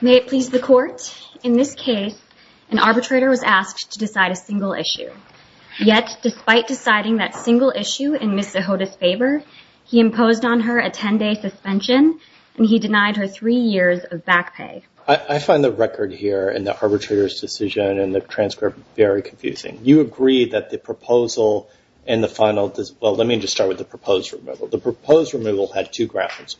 May it please the Court, in this case, an arbitrator was asked to decide a single issue. Yet, despite deciding that single issue in Ms. Sihota's favor, he imposed on her a 10-day suspension and he denied her three years of back pay. I find the record here in the arbitrator's decision and the transcript very confusing. You agree that the proposal in the final, well let me just start with the proposed removal. The proposed removal had two grounds.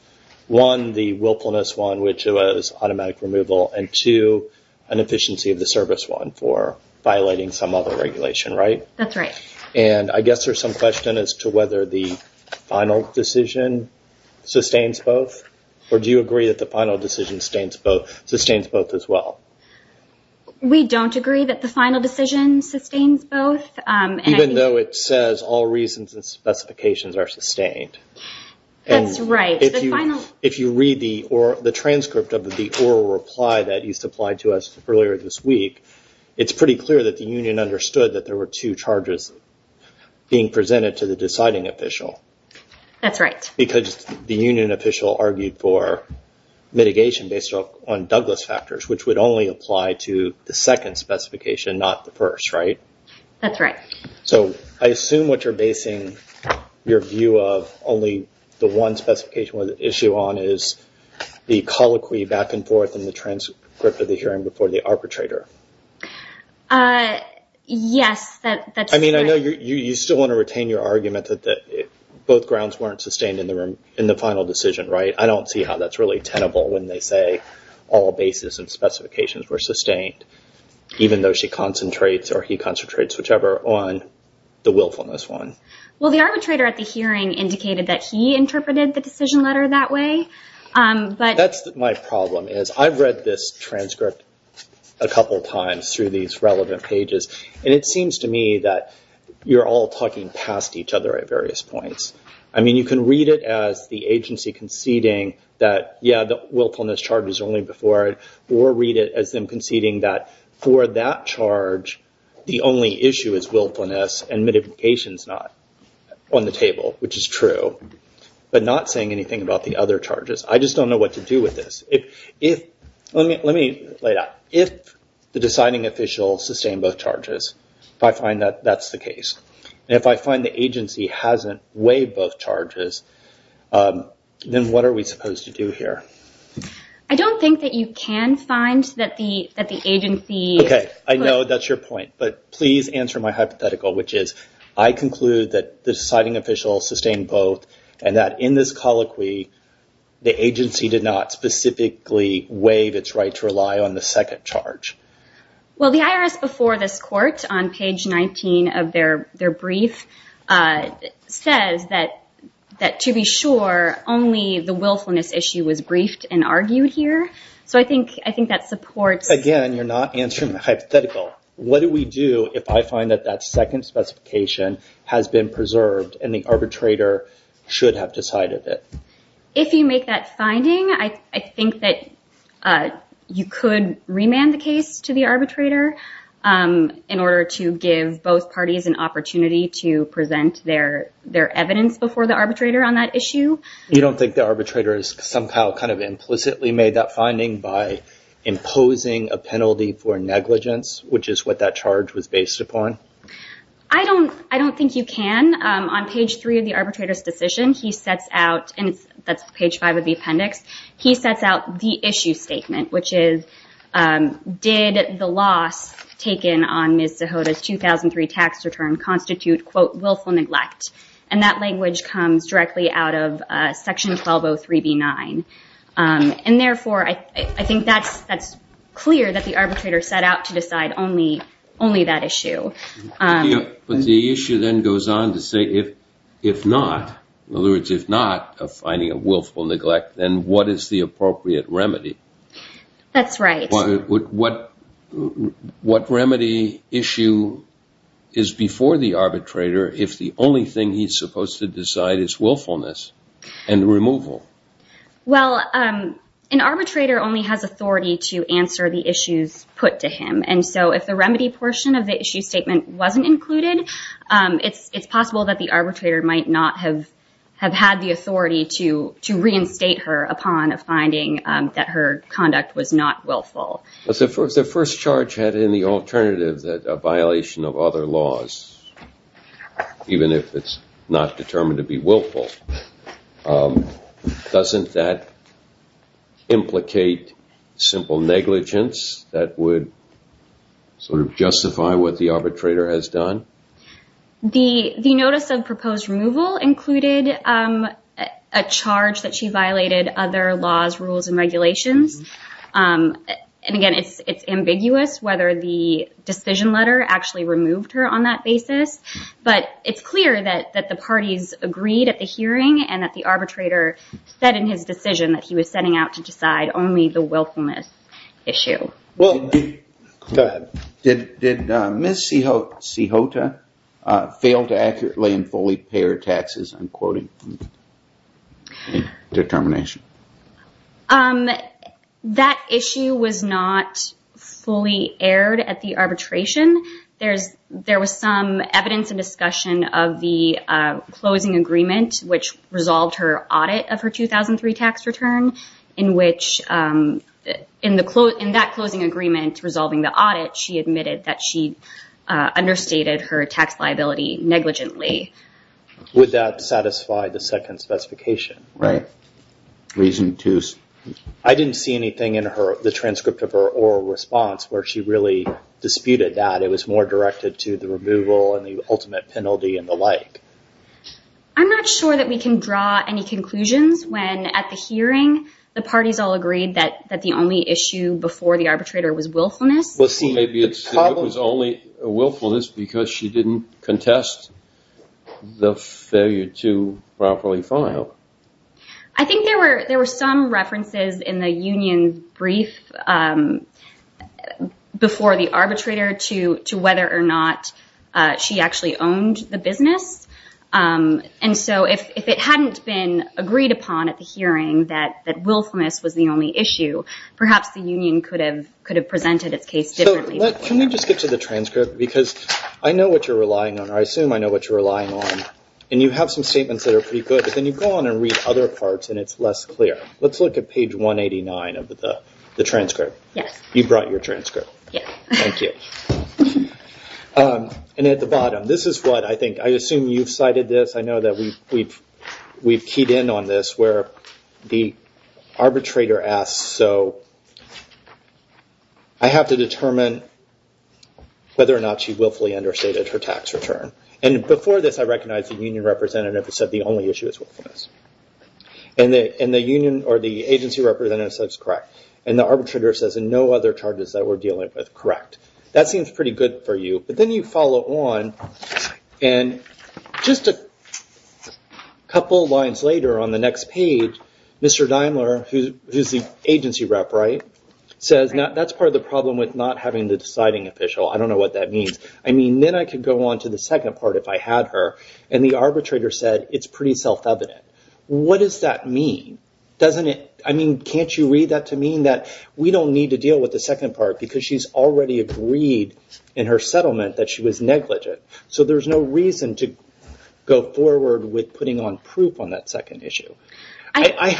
One, the willfulness one, which was automatic removal, and two, an efficiency of the service one for violating some other regulation, right? That's right. And I guess there's some question as to whether the final decision sustains both, or do you agree that the final decision sustains both as well? We don't agree that the final decision sustains both. Even though it says all reasons and specifications are sustained. That's right. If you read the transcript of the oral reply that you supplied to us earlier this week, it's pretty clear that the union understood that there were two charges being presented to the deciding official. That's right. Because the union official argued for mitigation based on Douglas factors, which would only apply to the second specification, not the first, right? That's right. So, I assume what you're basing your view of only the one specification with issue on is the colloquy back and forth in the transcript of the hearing before the arbitrator. Yes, that's correct. I mean, I know you still want to retain your argument that both grounds weren't sustained in the final decision, right? I don't see how that's really tenable when they say all basis and specifications were Well, the arbitrator at the hearing indicated that he interpreted the decision letter that way. That's my problem, is I've read this transcript a couple times through these relevant pages, and it seems to me that you're all talking past each other at various points. I mean, you can read it as the agency conceding that, yeah, the willfulness charge is only before it, or read it as them conceding that for that charge, the only issue is willfulness and mitigation's not on the table, which is true, but not saying anything about the other charges. I just don't know what to do with this. Let me lay it out. If the deciding official sustained both charges, if I find that that's the case, and if I find the agency hasn't waived both charges, then what are we supposed to do here? I don't think that you can find that the agency... Okay, I know that's your point, but please answer my hypothetical, which is, I conclude that the deciding official sustained both, and that in this colloquy, the agency did not specifically waive its right to rely on the second charge. Well, the IRS before this court on page 19 of their brief says that to be sure, only the willfulness issue was briefed and argued here, so I think that supports... Again, you're not answering my hypothetical. What do we do if I find that that second specification has been preserved, and the arbitrator should have decided it? If you make that finding, I think that you could remand the case to the arbitrator in order to give both parties an opportunity to present their evidence before the arbitrator on that issue. You don't think the arbitrator has somehow kind of implicitly made that finding by imposing a penalty for negligence, which is what that charge was based upon? I don't think you can. On page three of the arbitrator's decision, he sets out, and that's page five of the appendix, he sets out the issue statement, which is, did the loss taken on Ms. Zahota's 2003 tax return constitute, quote, willful neglect? And that language comes directly out of section 1203B9. And therefore, I think that's clear that the arbitrator set out to decide only that issue. But the issue then goes on to say, if not, in other words, if not of finding a willful neglect, then what is the appropriate remedy? That's right. What remedy issue is before the arbitrator if the only thing he's supposed to decide is willfulness and removal? Well, an arbitrator only has authority to answer the issues put to him. And so if the remedy portion of the issue statement wasn't included, it's possible that the arbitrator might not have had the authority to reinstate her upon a finding that her conduct was not willful. But the first charge had in the alternative that a violation of other laws, even if it's not determined to be willful, doesn't that implicate simple negligence that would sort of justify what the arbitrator has done? The notice of proposed removal included a charge that she violated other laws, rules, and regulations. And again, it's ambiguous whether the decision letter actually removed her on that basis. But it's clear that the parties agreed at the hearing and that the arbitrator said in his decision that he was setting out to decide only the willfulness issue. Go ahead. Did Ms. Cejota fail to accurately and fully pay her taxes, I'm quoting, in determination? That issue was not fully aired at the arbitration. There was some evidence and discussion of the closing agreement, which resolved her audit of her 2003 tax return, in which in that closing agreement resolving the audit, she admitted that she understated her tax liability negligently. Would that satisfy the second specification? Right. Reason two. I didn't see anything in the transcript of her oral response where she really disputed that. It was more directed to the removal and the ultimate penalty and the like. I'm not sure that we can draw any conclusions when, at the hearing, the parties all agreed that the only issue before the arbitrator was willfulness. Well, see, maybe it's that it was only willfulness because she didn't contest the failure to I think there were some references in the union brief before the arbitrator to whether or not she actually owned the business. If it hadn't been agreed upon at the hearing that willfulness was the only issue, perhaps the union could have presented its case differently. Can we just get to the transcript? I know what you're relying on, or I assume I know what you're relying on. You have some statements that are pretty good, but then you go on and read other parts and it's less clear. Let's look at page 189 of the transcript. You brought your transcript. Yes. Thank you. At the bottom, this is what I think, I assume you've cited this. I know that we've keyed in on this where the arbitrator asks, so I have to determine whether or not she willfully understated her tax return. Before this, I recognized the union representative who said the only issue is willfulness. The union or the agency representative says correct, and the arbitrator says no other charges that we're dealing with, correct. That seems pretty good for you, but then you follow on and just a couple of lines later on the next page, Mr. Daimler, who's the agency rep, says that's part of the problem with not having the deciding official. I don't know what that means. Then I could go on to the second part if I had her, and the arbitrator said it's pretty self-evident. What does that mean? Can't you read that to mean that we don't need to deal with the second part because she's already agreed in her settlement that she was negligent? There's no reason to go forward with putting on proof on that second issue. I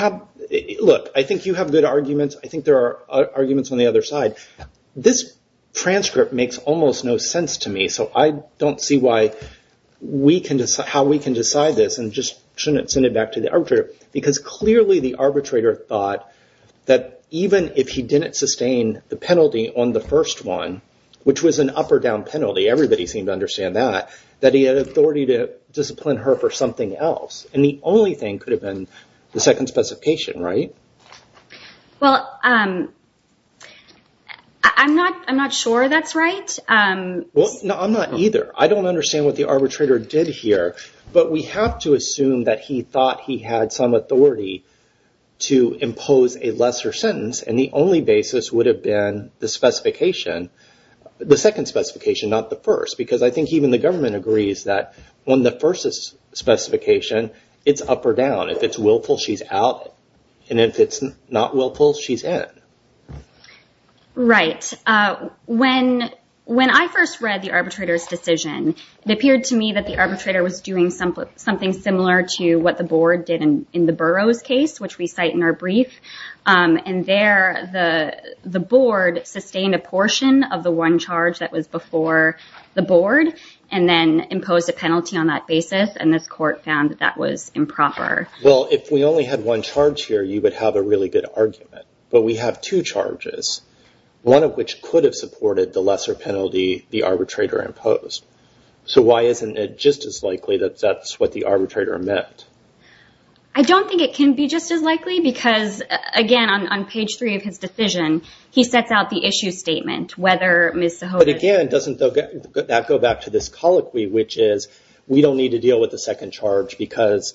think you have good arguments. I think there are arguments on the other side. This transcript makes almost no sense to me, so I don't see how we can decide this and just shouldn't send it back to the arbitrator because clearly the arbitrator thought that even if he didn't sustain the penalty on the first one, which was an up or down penalty, everybody seemed to understand that, that he had authority to discipline her for something else. The only thing could have been the second specification, right? Well, I'm not sure that's right. No, I'm not either. I don't understand what the arbitrator did here, but we have to assume that he thought he had some authority to impose a lesser sentence, and the only basis would have been the second specification, not the first, because I think even the government agrees that when the first is specification, it's up or down. If it's willful, she's out, and if it's not willful, she's in. Right. When I first read the arbitrator's decision, it appeared to me that the arbitrator was doing something similar to what the board did in the Burroughs case, which we cite in our brief, and there the board sustained a portion of the one charge that was before the board and then imposed a penalty on that basis, and this court found that that was improper. Well, if we only had one charge here, you would have a really good argument, but we have two charges, one of which could have supported the lesser penalty the arbitrator imposed. So, why isn't it just as likely that that's what the arbitrator meant? I don't think it can be just as likely because, again, on page three of his decision, he sets out the issue statement, whether Ms. Sohova- But again, doesn't that go back to this colloquy, which is, we don't need to deal with the second charge because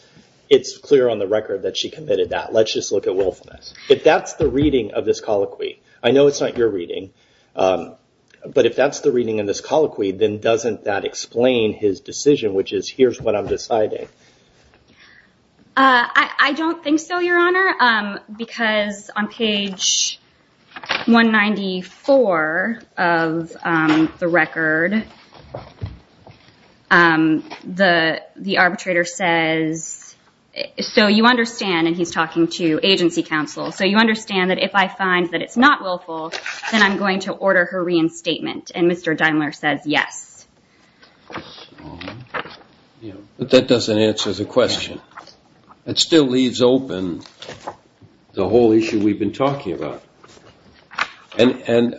it's clear on the record that she committed that. Let's just look at willfulness. If that's the reading of this colloquy, I know it's not your reading, but if that's the reading in this colloquy, then doesn't that explain his decision, which is, here's what I'm deciding? I don't think so, Your Honor, because on page 194 of the record, the arbitrator says, so you understand, and he's talking to agency counsel, so you understand that if I find that it's not willful, then I'm going to order her reinstatement, and Mr. Daimler says yes. But that doesn't answer the question. It still leaves open the whole issue we've been talking about, and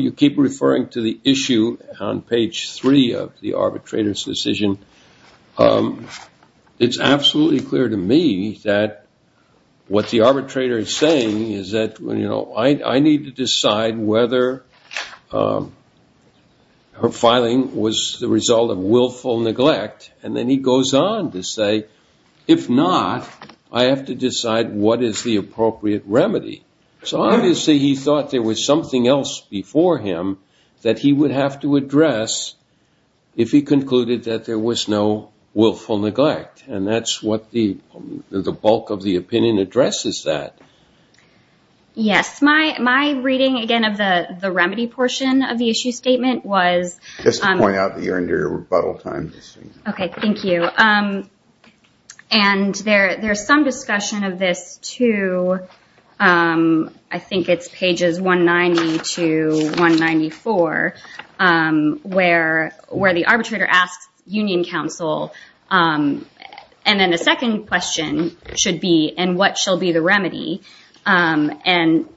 you keep referring to the issue on page three of the arbitrator's decision. It's absolutely clear to me that what the arbitrator is saying is that I need to decide whether her filing was the result of willful neglect, and then he goes on to say, if not, I have to decide what is the appropriate remedy. So obviously he thought there was something else before him that he would have to address if he concluded that there was no willful neglect, and that's what the bulk of the opinion addresses that. Yes. My reading, again, of the remedy portion of the issue statement was- Just to point out that you're in your rebuttal time. Okay. Thank you. And there's some discussion of this to, I think it's pages 190 to 194, where the arbitrator asks union counsel, and then the second question should be, and what shall be the remedy? And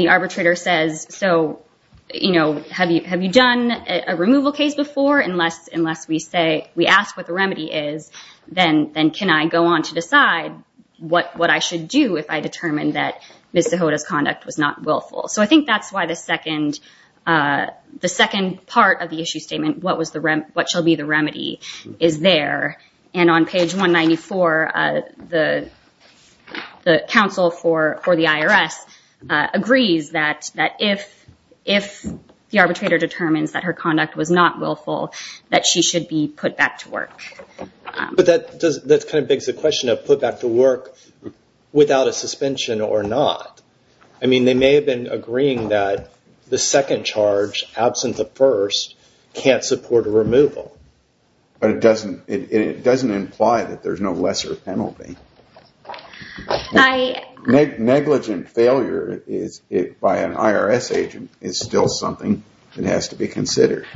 the arbitrator says, so have you done a removal case before? Unless we ask what the remedy is, then can I go on to decide what I should do if I determined that Ms. Zahota's conduct was not willful? So I think that's why the second part of the issue statement, what shall be the remedy, is there. And on page 194, the counsel for the IRS agrees that if the arbitrator determines that her conduct was not willful, that she should be put back to work. But that kind of begs the question of put back to work without a suspension or not. I mean, they may have been agreeing that the second charge, absent the first, can't support a removal. But it doesn't imply that there's no lesser penalty. Negligent failure by an IRS agent is still something that has to be considered.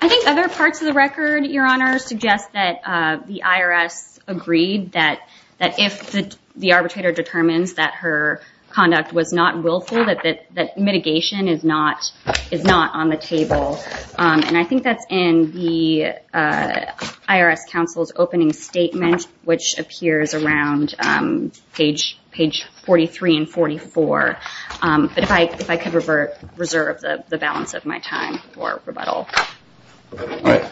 I think other parts of the record, Your Honor, suggest that the IRS agreed that if the arbitrator determines that her conduct was not willful, that mitigation is not on the table. And I think that's in the IRS counsel's opening statement, which appears around page 43 and 44. But if I could reserve the balance of my time for rebuttal. All right.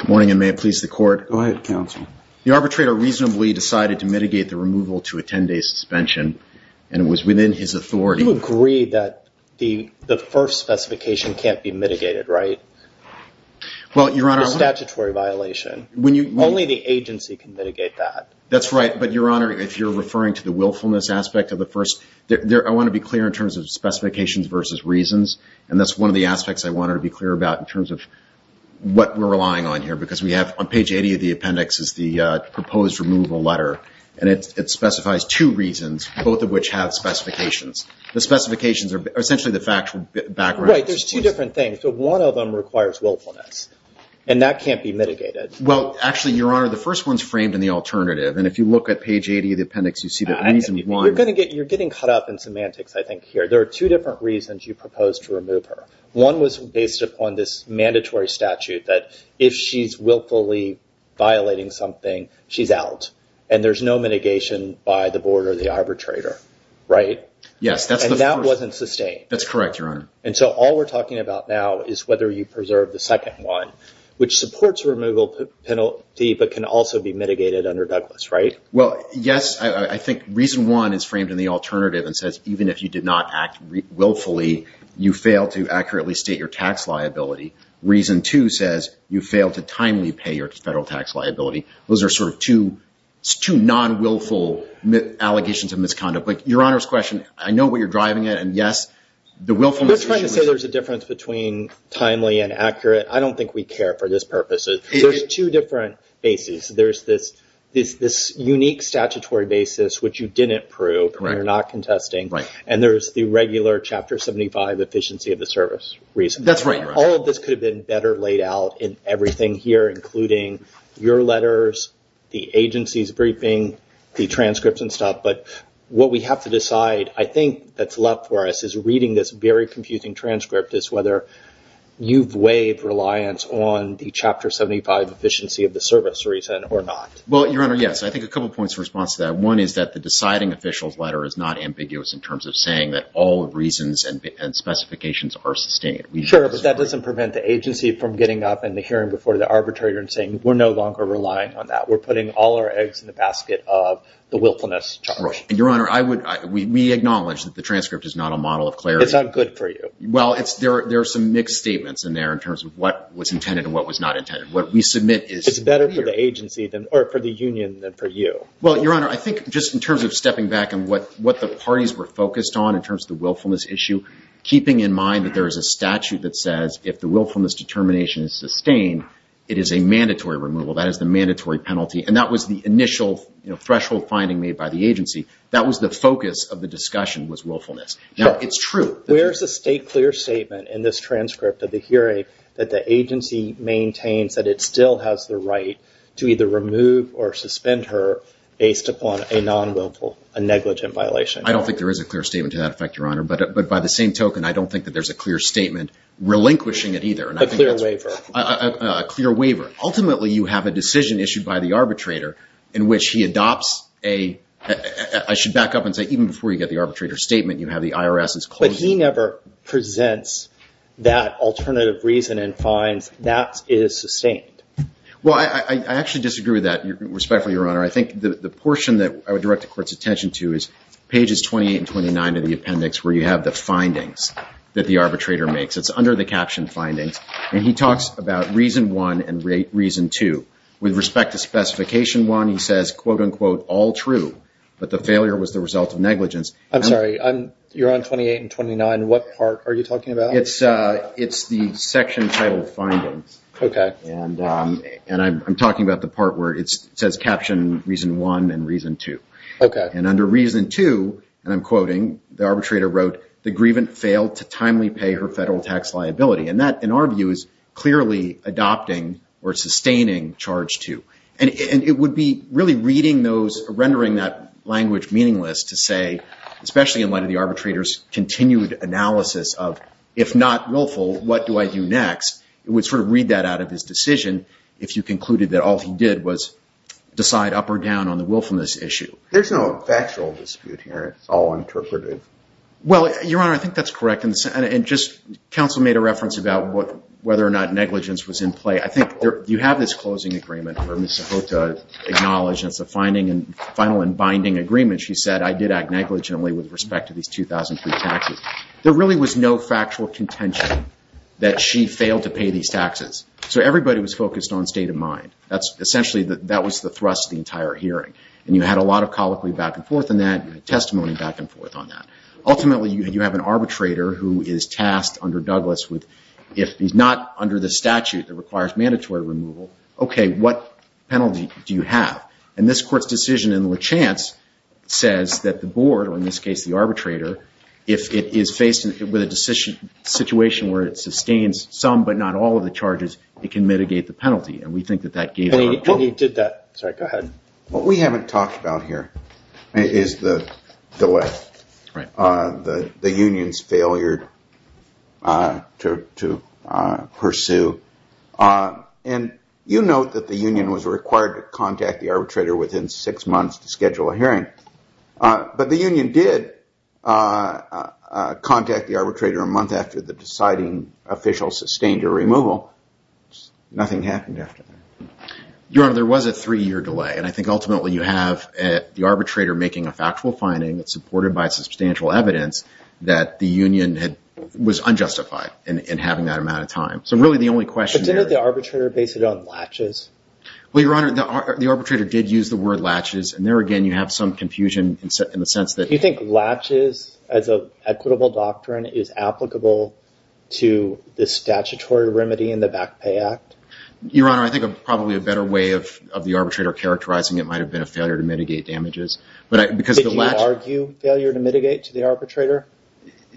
Good morning, and may it please the court. Go ahead, counsel. The arbitrator reasonably decided to mitigate the removal to a 10-day suspension, and it was within his authority. You agree that the first specification can't be mitigated, right? Well, Your Honor, I'm not... A statutory violation. When you... Only the agency can mitigate that. That's right. But, Your Honor, if you're referring to the willfulness aspect of the first... I want to be clear in terms of specifications versus reasons, and that's one of the aspects I wanted to be clear about in terms of what we're relying on here. Because we have, on page 80 of the appendix, is the proposed removal letter, and it specifies two reasons, both of which have specifications. The specifications are essentially the factual background. Right. There's two different things, but one of them requires willfulness, and that can't be mitigated. Well, actually, Your Honor, the first one's framed in the alternative, and if you look at page 80 of the appendix, you see that reason one... You're getting caught up in semantics, I think, here. There are two different reasons you proposed to remove her. One was based upon this mandatory statute that if she's willfully violating something, she's out, and there's no mitigation by the board or the arbitrator. Right? Yes, that's the first... And that wasn't sustained. That's correct, Your Honor. And so, all we're talking about now is whether you preserve the second one, which supports removal penalty, but can also be mitigated under Douglas, right? Well, yes. I think reason one is framed in the alternative and says, even if you did not act willfully, you failed to accurately state your tax liability. Reason two says, you failed to timely pay your federal tax liability. Those are sort of two non-willful allegations of misconduct, but Your Honor's question, I know what you're driving at, and yes, the willfulness issue... I'm just trying to say there's a difference between timely and accurate. I don't think we care for this purpose. There's two different bases. There's this unique statutory basis, which you didn't prove, and you're not contesting, and there's the regular Chapter 75 efficiency of the service reason. That's right, Your Honor. All of this could have been better laid out in everything here, including your letters, the agency's briefing, the transcripts and stuff, but what we have to decide, I think that's left for us is reading this very confusing transcript is whether you've weighed reliance on the Chapter 75 efficiency of the service reason or not. Well, Your Honor, yes. I think a couple of points in response to that. One is that the deciding official's letter is not ambiguous in terms of saying that all reasons and specifications are sustained. Sure, but that doesn't prevent the agency from getting up in the hearing before the arbitrator and saying, we're no longer relying on that. We're putting all our eggs in the basket of the willfulness charge. Your Honor, we acknowledge that the transcript is not a model of clarity. It's not good for you. Well, there are some mixed statements in there in terms of what was intended and what was not intended. What we submit is clear. It's better for the agency, or for the union, than for you. Well, Your Honor, I think just in terms of stepping back and what the parties were focused on in terms of the willfulness issue, keeping in mind that there is a statute that says if the willfulness determination is sustained, it is a mandatory removal. That is the mandatory penalty. And that was the initial threshold finding made by the agency. That was the focus of the discussion was willfulness. Now, it's true. it still has the right to either remove or suspend her based upon a non-willful, a negligent violation. I don't think there is a clear statement to that effect, Your Honor. But by the same token, I don't think that there's a clear statement relinquishing it either. A clear waiver. A clear waiver. Ultimately, you have a decision issued by the arbitrator in which he adopts a, I should back up and say, even before you get the arbitrator's statement, you have the IRS's closure. He never presents that alternative reason and finds that it is sustained. Well, I actually disagree with that, respectfully, Your Honor. I think the portion that I would direct the court's attention to is pages 28 and 29 of the appendix where you have the findings that the arbitrator makes. It's under the caption findings, and he talks about reason one and reason two. With respect to specification one, he says, quote unquote, all true, but the failure was the result of negligence. I'm sorry. You're on 28 and 29. What part are you talking about? It's the section titled findings. I'm talking about the part where it says caption reason one and reason two. Under reason two, and I'm quoting, the arbitrator wrote, the grievant failed to timely pay her federal tax liability. That, in our view, is clearly adopting or sustaining charge two. It would be rendering that language meaningless to say, especially in light of the arbitrator's continued analysis of, if not willful, what do I do next, it would sort of read that out of his decision if you concluded that all he did was decide up or down on the willfulness issue. There's no factual dispute here. It's all interpreted. Well, Your Honor, I think that's correct. Counsel made a reference about whether or not negligence was in play. You have this closing agreement where Ms. Cejota acknowledged, and it's a final and binding agreement. She said, I did act negligently with respect to these 2003 taxes. There really was no factual contention that she failed to pay these taxes. Everybody was focused on state of mind. Essentially, that was the thrust of the entire hearing. You had a lot of colloquy back and forth on that, testimony back and forth on that. Ultimately, you have an arbitrator who is tasked under Douglas with, if he's not under the statute that requires mandatory removal, OK, what penalty do you have? And this court's decision in Lachance says that the board, or in this case, the arbitrator, if it is faced with a situation where it sustains some but not all of the charges, it can mitigate the penalty. And we think that that gave her control. And he did that. Sorry, go ahead. What we haven't talked about here is the delay, the union's failure to pursue. And you note that the union was required to contact the arbitrator within six months to schedule a hearing. But the union did contact the arbitrator a month after the deciding official sustained a removal. Nothing happened after that. Your Honor, there was a three-year delay. And I think ultimately, you have the arbitrator making a factual finding that's supported by substantial evidence that the union was unjustified in having that amount of time. So really, the only question there- But didn't the arbitrator base it on Lachance? Well, Your Honor, the arbitrator did use the word Lachance. And there again, you have some confusion in the sense that- Do you think Lachance, as an equitable doctrine, is applicable to the statutory remedy in the Back Pay Act? Your Honor, I think probably a better way of the arbitrator characterizing it might have been a failure to mitigate damages. Because the Lachance- Did you argue failure to mitigate to the arbitrator?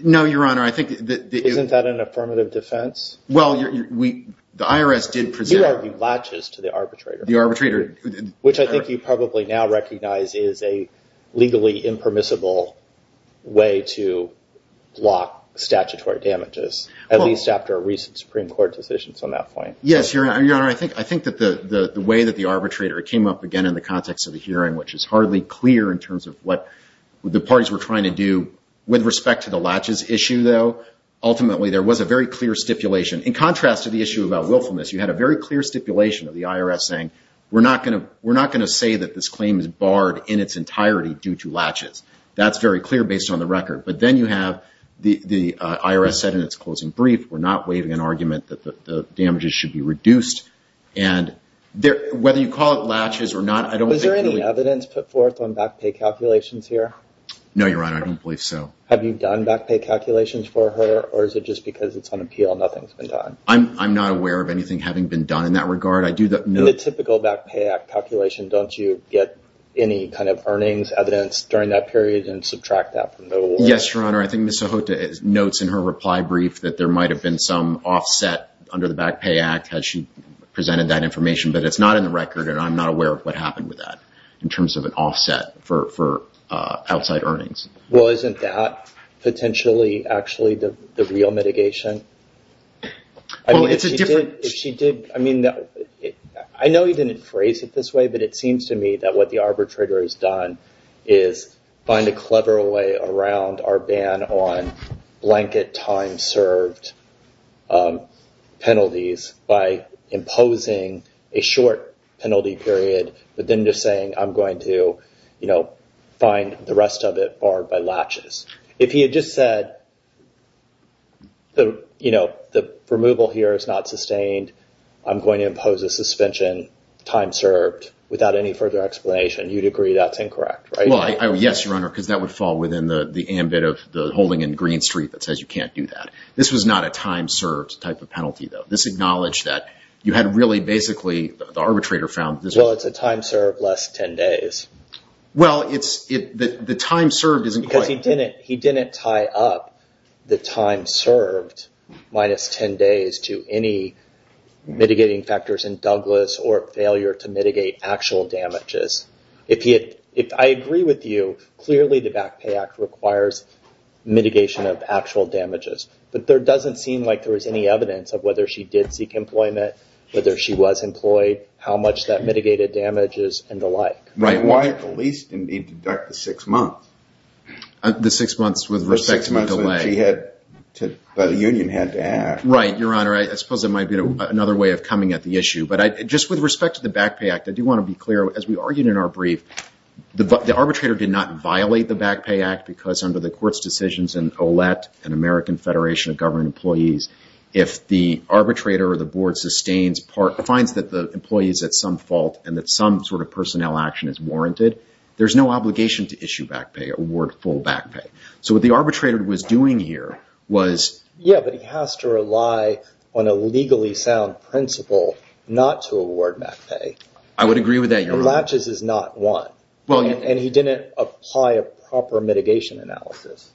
No, Your Honor. I think that- Isn't that an affirmative defense? Well, the IRS did present- You argued Lachance to the arbitrator. The arbitrator- Which I think you probably now recognize is a legally impermissible way to block statutory damages, at least after recent Supreme Court decisions on that point. Yes, Your Honor. I think that the way that the arbitrator came up, again, in the context of the hearing, which is hardly clear in terms of what the parties were trying to do. With respect to the Lachance issue, though, ultimately there was a very clear stipulation. In contrast to the issue about willfulness, you had a very clear stipulation of the IRS saying, we're not going to say that this claim is barred in its entirety due to Lachance. That's very clear based on the record. But then you have the IRS said in its closing brief, we're not waiving an argument that the damages should be reduced. And whether you call it Lachance or not, I don't think- Was there any evidence put forth on back pay calculations here? No, Your Honor. I don't believe so. Have you done back pay calculations for her, or is it just because it's on appeal, nothing's been done? I'm not aware of anything having been done in that regard. I do- In the typical back pay calculation, don't you get any kind of earnings evidence during that period and subtract that from the- Yes, Your Honor. I think Ms. Sohota notes in her reply brief that there might have been some offset under the Back Pay Act as she presented that information. But it's not in the record, and I'm not aware of what happened with that in terms of an offset for outside earnings. Well, isn't that potentially actually the real mitigation? I mean, if she did- I mean, I know you didn't phrase it this way, but it seems to me that what the arbitrator has done is find a clever way around our ban on blanket time served penalties by imposing a short penalty period, but then just saying, I'm going to find the rest of it barred by latches. If he had just said, the removal here is not sustained, I'm going to impose a suspension time served without any further explanation, you'd agree that's incorrect, right? Well, yes, Your Honor, because that would fall within the ambit of the holding in Green Street that says you can't do that. This was not a time served type of penalty, though. This acknowledged that you had really basically, the arbitrator found this- Well, it's a time served less 10 days. Well, the time served isn't quite- Because he didn't tie up the time served minus 10 days to any mitigating factors in Douglas or failure to mitigate actual damages. If I agree with you, clearly the Back Pay Act requires mitigation of actual damages, but there doesn't seem like there was any evidence of whether she did seek employment, whether she was employed, how much that mitigated damages, and the like. Right. Why at the least, indeed, deduct the six months? The six months with respect to the delay. The six months that she had, that the union had to add. Right, Your Honor. I suppose it might be another way of coming at the issue, but just with respect to the Back Pay Act, I do want to be clear. As we argued in our brief, the arbitrator did not violate the Back Pay Act because under the court's decisions in OLET, an American Federation of Government Employees, if the arbitrator or the board sustains, finds that the employee is at some fault and that some sort of personnel action is warranted, there's no obligation to issue back pay, award full back pay. What the arbitrator was doing here was- on a legally sound principle, not to award back pay. I would agree with that, Your Honor. And Latches is not one. And he didn't apply a proper mitigation analysis.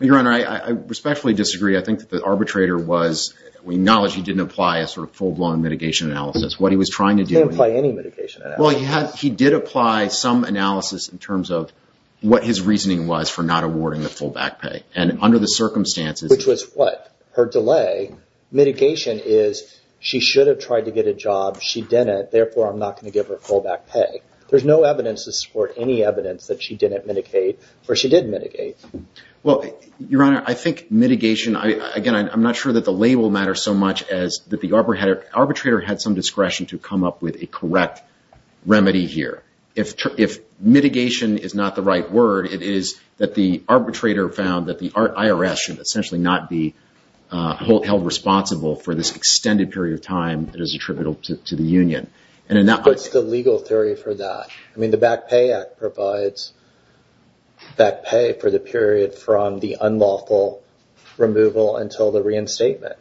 Your Honor, I respectfully disagree. I think that the arbitrator was, we acknowledge he didn't apply a sort of full-blown mitigation analysis. What he was trying to do- He didn't apply any mitigation analysis. Well, he did apply some analysis in terms of what his reasoning was for not awarding the full back pay. And under the circumstances- Which was what? Her delay, mitigation is, she should have tried to get a job. She didn't. Therefore, I'm not going to give her full back pay. There's no evidence to support any evidence that she didn't mitigate, or she did mitigate. Well, Your Honor, I think mitigation, again, I'm not sure that the label matters so much as that the arbitrator had some discretion to come up with a correct remedy here. If mitigation is not the right word, it is that the arbitrator found that the IRS should be held responsible for this extended period of time that is attributable to the union. And in that- What's the legal theory for that? I mean, the Back Pay Act provides back pay for the period from the unlawful removal until the reinstatement.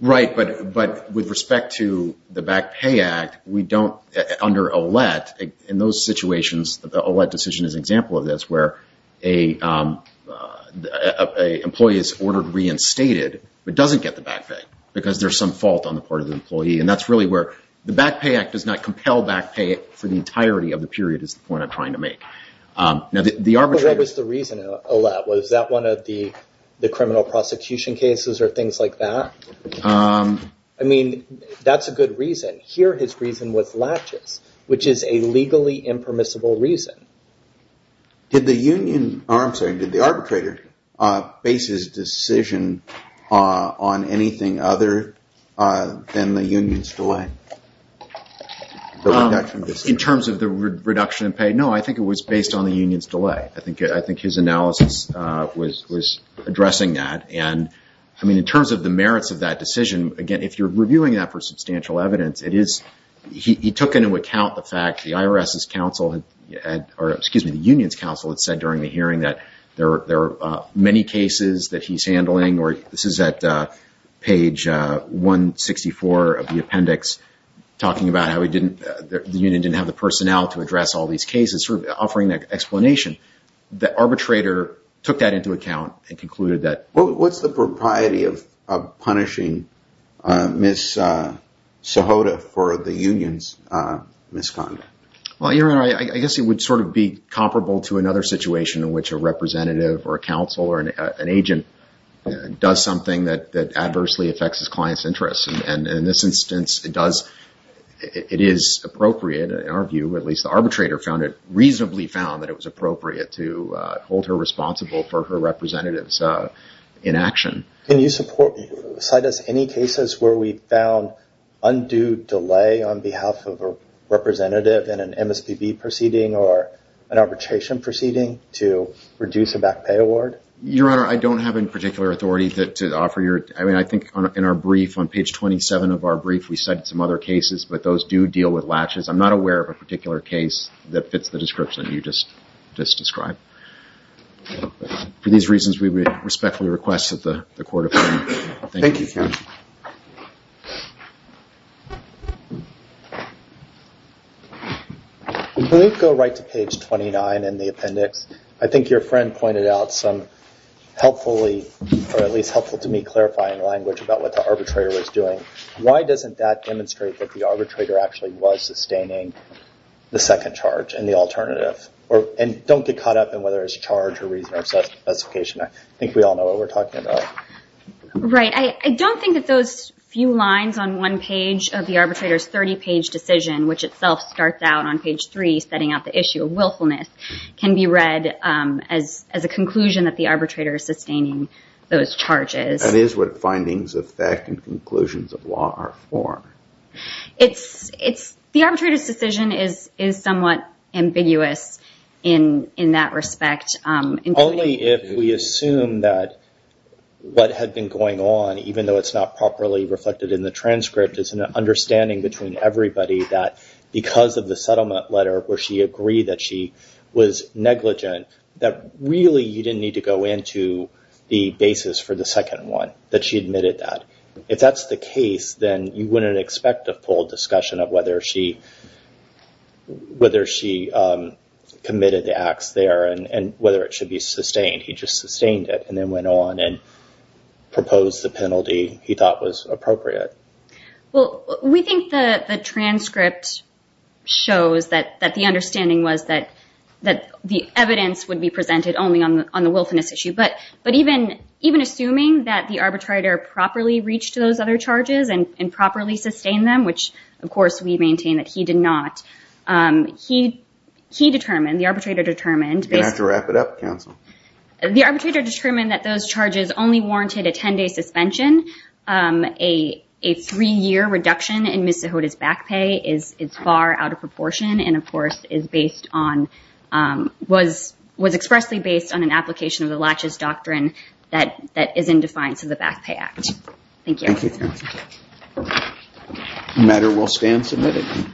Right. But with respect to the Back Pay Act, we don't, under OLET, in those situations, the OLET decision is an example of this, where an employee is ordered reinstated, but doesn't get the back pay because there's some fault on the part of the employee. And that's really where the Back Pay Act does not compel back pay for the entirety of the period is the point I'm trying to make. Now, the arbitrator- But what was the reason, OLET, was that one of the criminal prosecution cases or things like that? I mean, that's a good reason. Here, his reason was latches, which is a legally impermissible reason. Did the union- Or I'm sorry. Did the arbitrator base his decision on anything other than the union's delay? In terms of the reduction in pay? No. I think it was based on the union's delay. I think his analysis was addressing that. And I mean, in terms of the merits of that decision, again, if you're reviewing that for substantial evidence, he took into account the fact that the union's counsel had said during the hearing that there are many cases that he's handling. This is at page 164 of the appendix, talking about how the union didn't have the personnel to address all these cases, sort of offering that explanation. The arbitrator took that into account and concluded that- What's the propriety of punishing Ms. Sohota for the union's misconduct? Well, Your Honor, I guess it would sort of be comparable to another situation in which a representative or a counsel or an agent does something that adversely affects his client's interests. And in this instance, it is appropriate, in our view, at least the arbitrator found it was appropriate to hold her responsible for her representative's inaction. Can you cite us any cases where we found undue delay on behalf of a representative in an MSPB proceeding or an arbitration proceeding to reduce a back pay award? Your Honor, I don't have any particular authority to offer your- I mean, I think in our brief, on page 27 of our brief, we cited some other cases, but those do deal with latches. I'm not aware of a particular case that fits the description. For these reasons, we would respectfully request that the Court of Appeal- Thank you, Your Honor. When we go right to page 29 in the appendix, I think your friend pointed out some helpfully, or at least helpful to me, clarifying language about what the arbitrator was doing. Why doesn't that demonstrate that the arbitrator actually was sustaining the second charge and the alternative, and don't get caught up in whether it's a charge or reason or a specification? I think we all know what we're talking about. Right. I don't think that those few lines on one page of the arbitrator's 30-page decision, which itself starts out on page 3, setting out the issue of willfulness, can be read as a conclusion that the arbitrator is sustaining those charges. That is what findings of fact and conclusions of law are for. The arbitrator's decision is somewhat ambiguous in that respect. Only if we assume that what had been going on, even though it's not properly reflected in the transcript, is an understanding between everybody that because of the settlement letter, where she agreed that she was negligent, that really you didn't need to go into the basis for the second one, that she admitted that. If that's the case, then you wouldn't expect a full discussion of whether she committed the acts there and whether it should be sustained. He just sustained it and then went on and proposed the penalty he thought was appropriate. Well, we think the transcript shows that the understanding was that the evidence would be presented only on the willfulness issue. But even assuming that the arbitrator properly reached those other charges and properly sustained them, which of course we maintain that he did not, he determined, the arbitrator determined... You're going to have to wrap it up, counsel. The arbitrator determined that those charges only warranted a 10-day suspension. A three-year reduction in Ms. Zahoda's back pay is far out of proportion and, of course, was expressly based on an application of the Latches Doctrine that is in defiance of the Back Pay Act. Thank you. Thank you. The matter will stand submitted.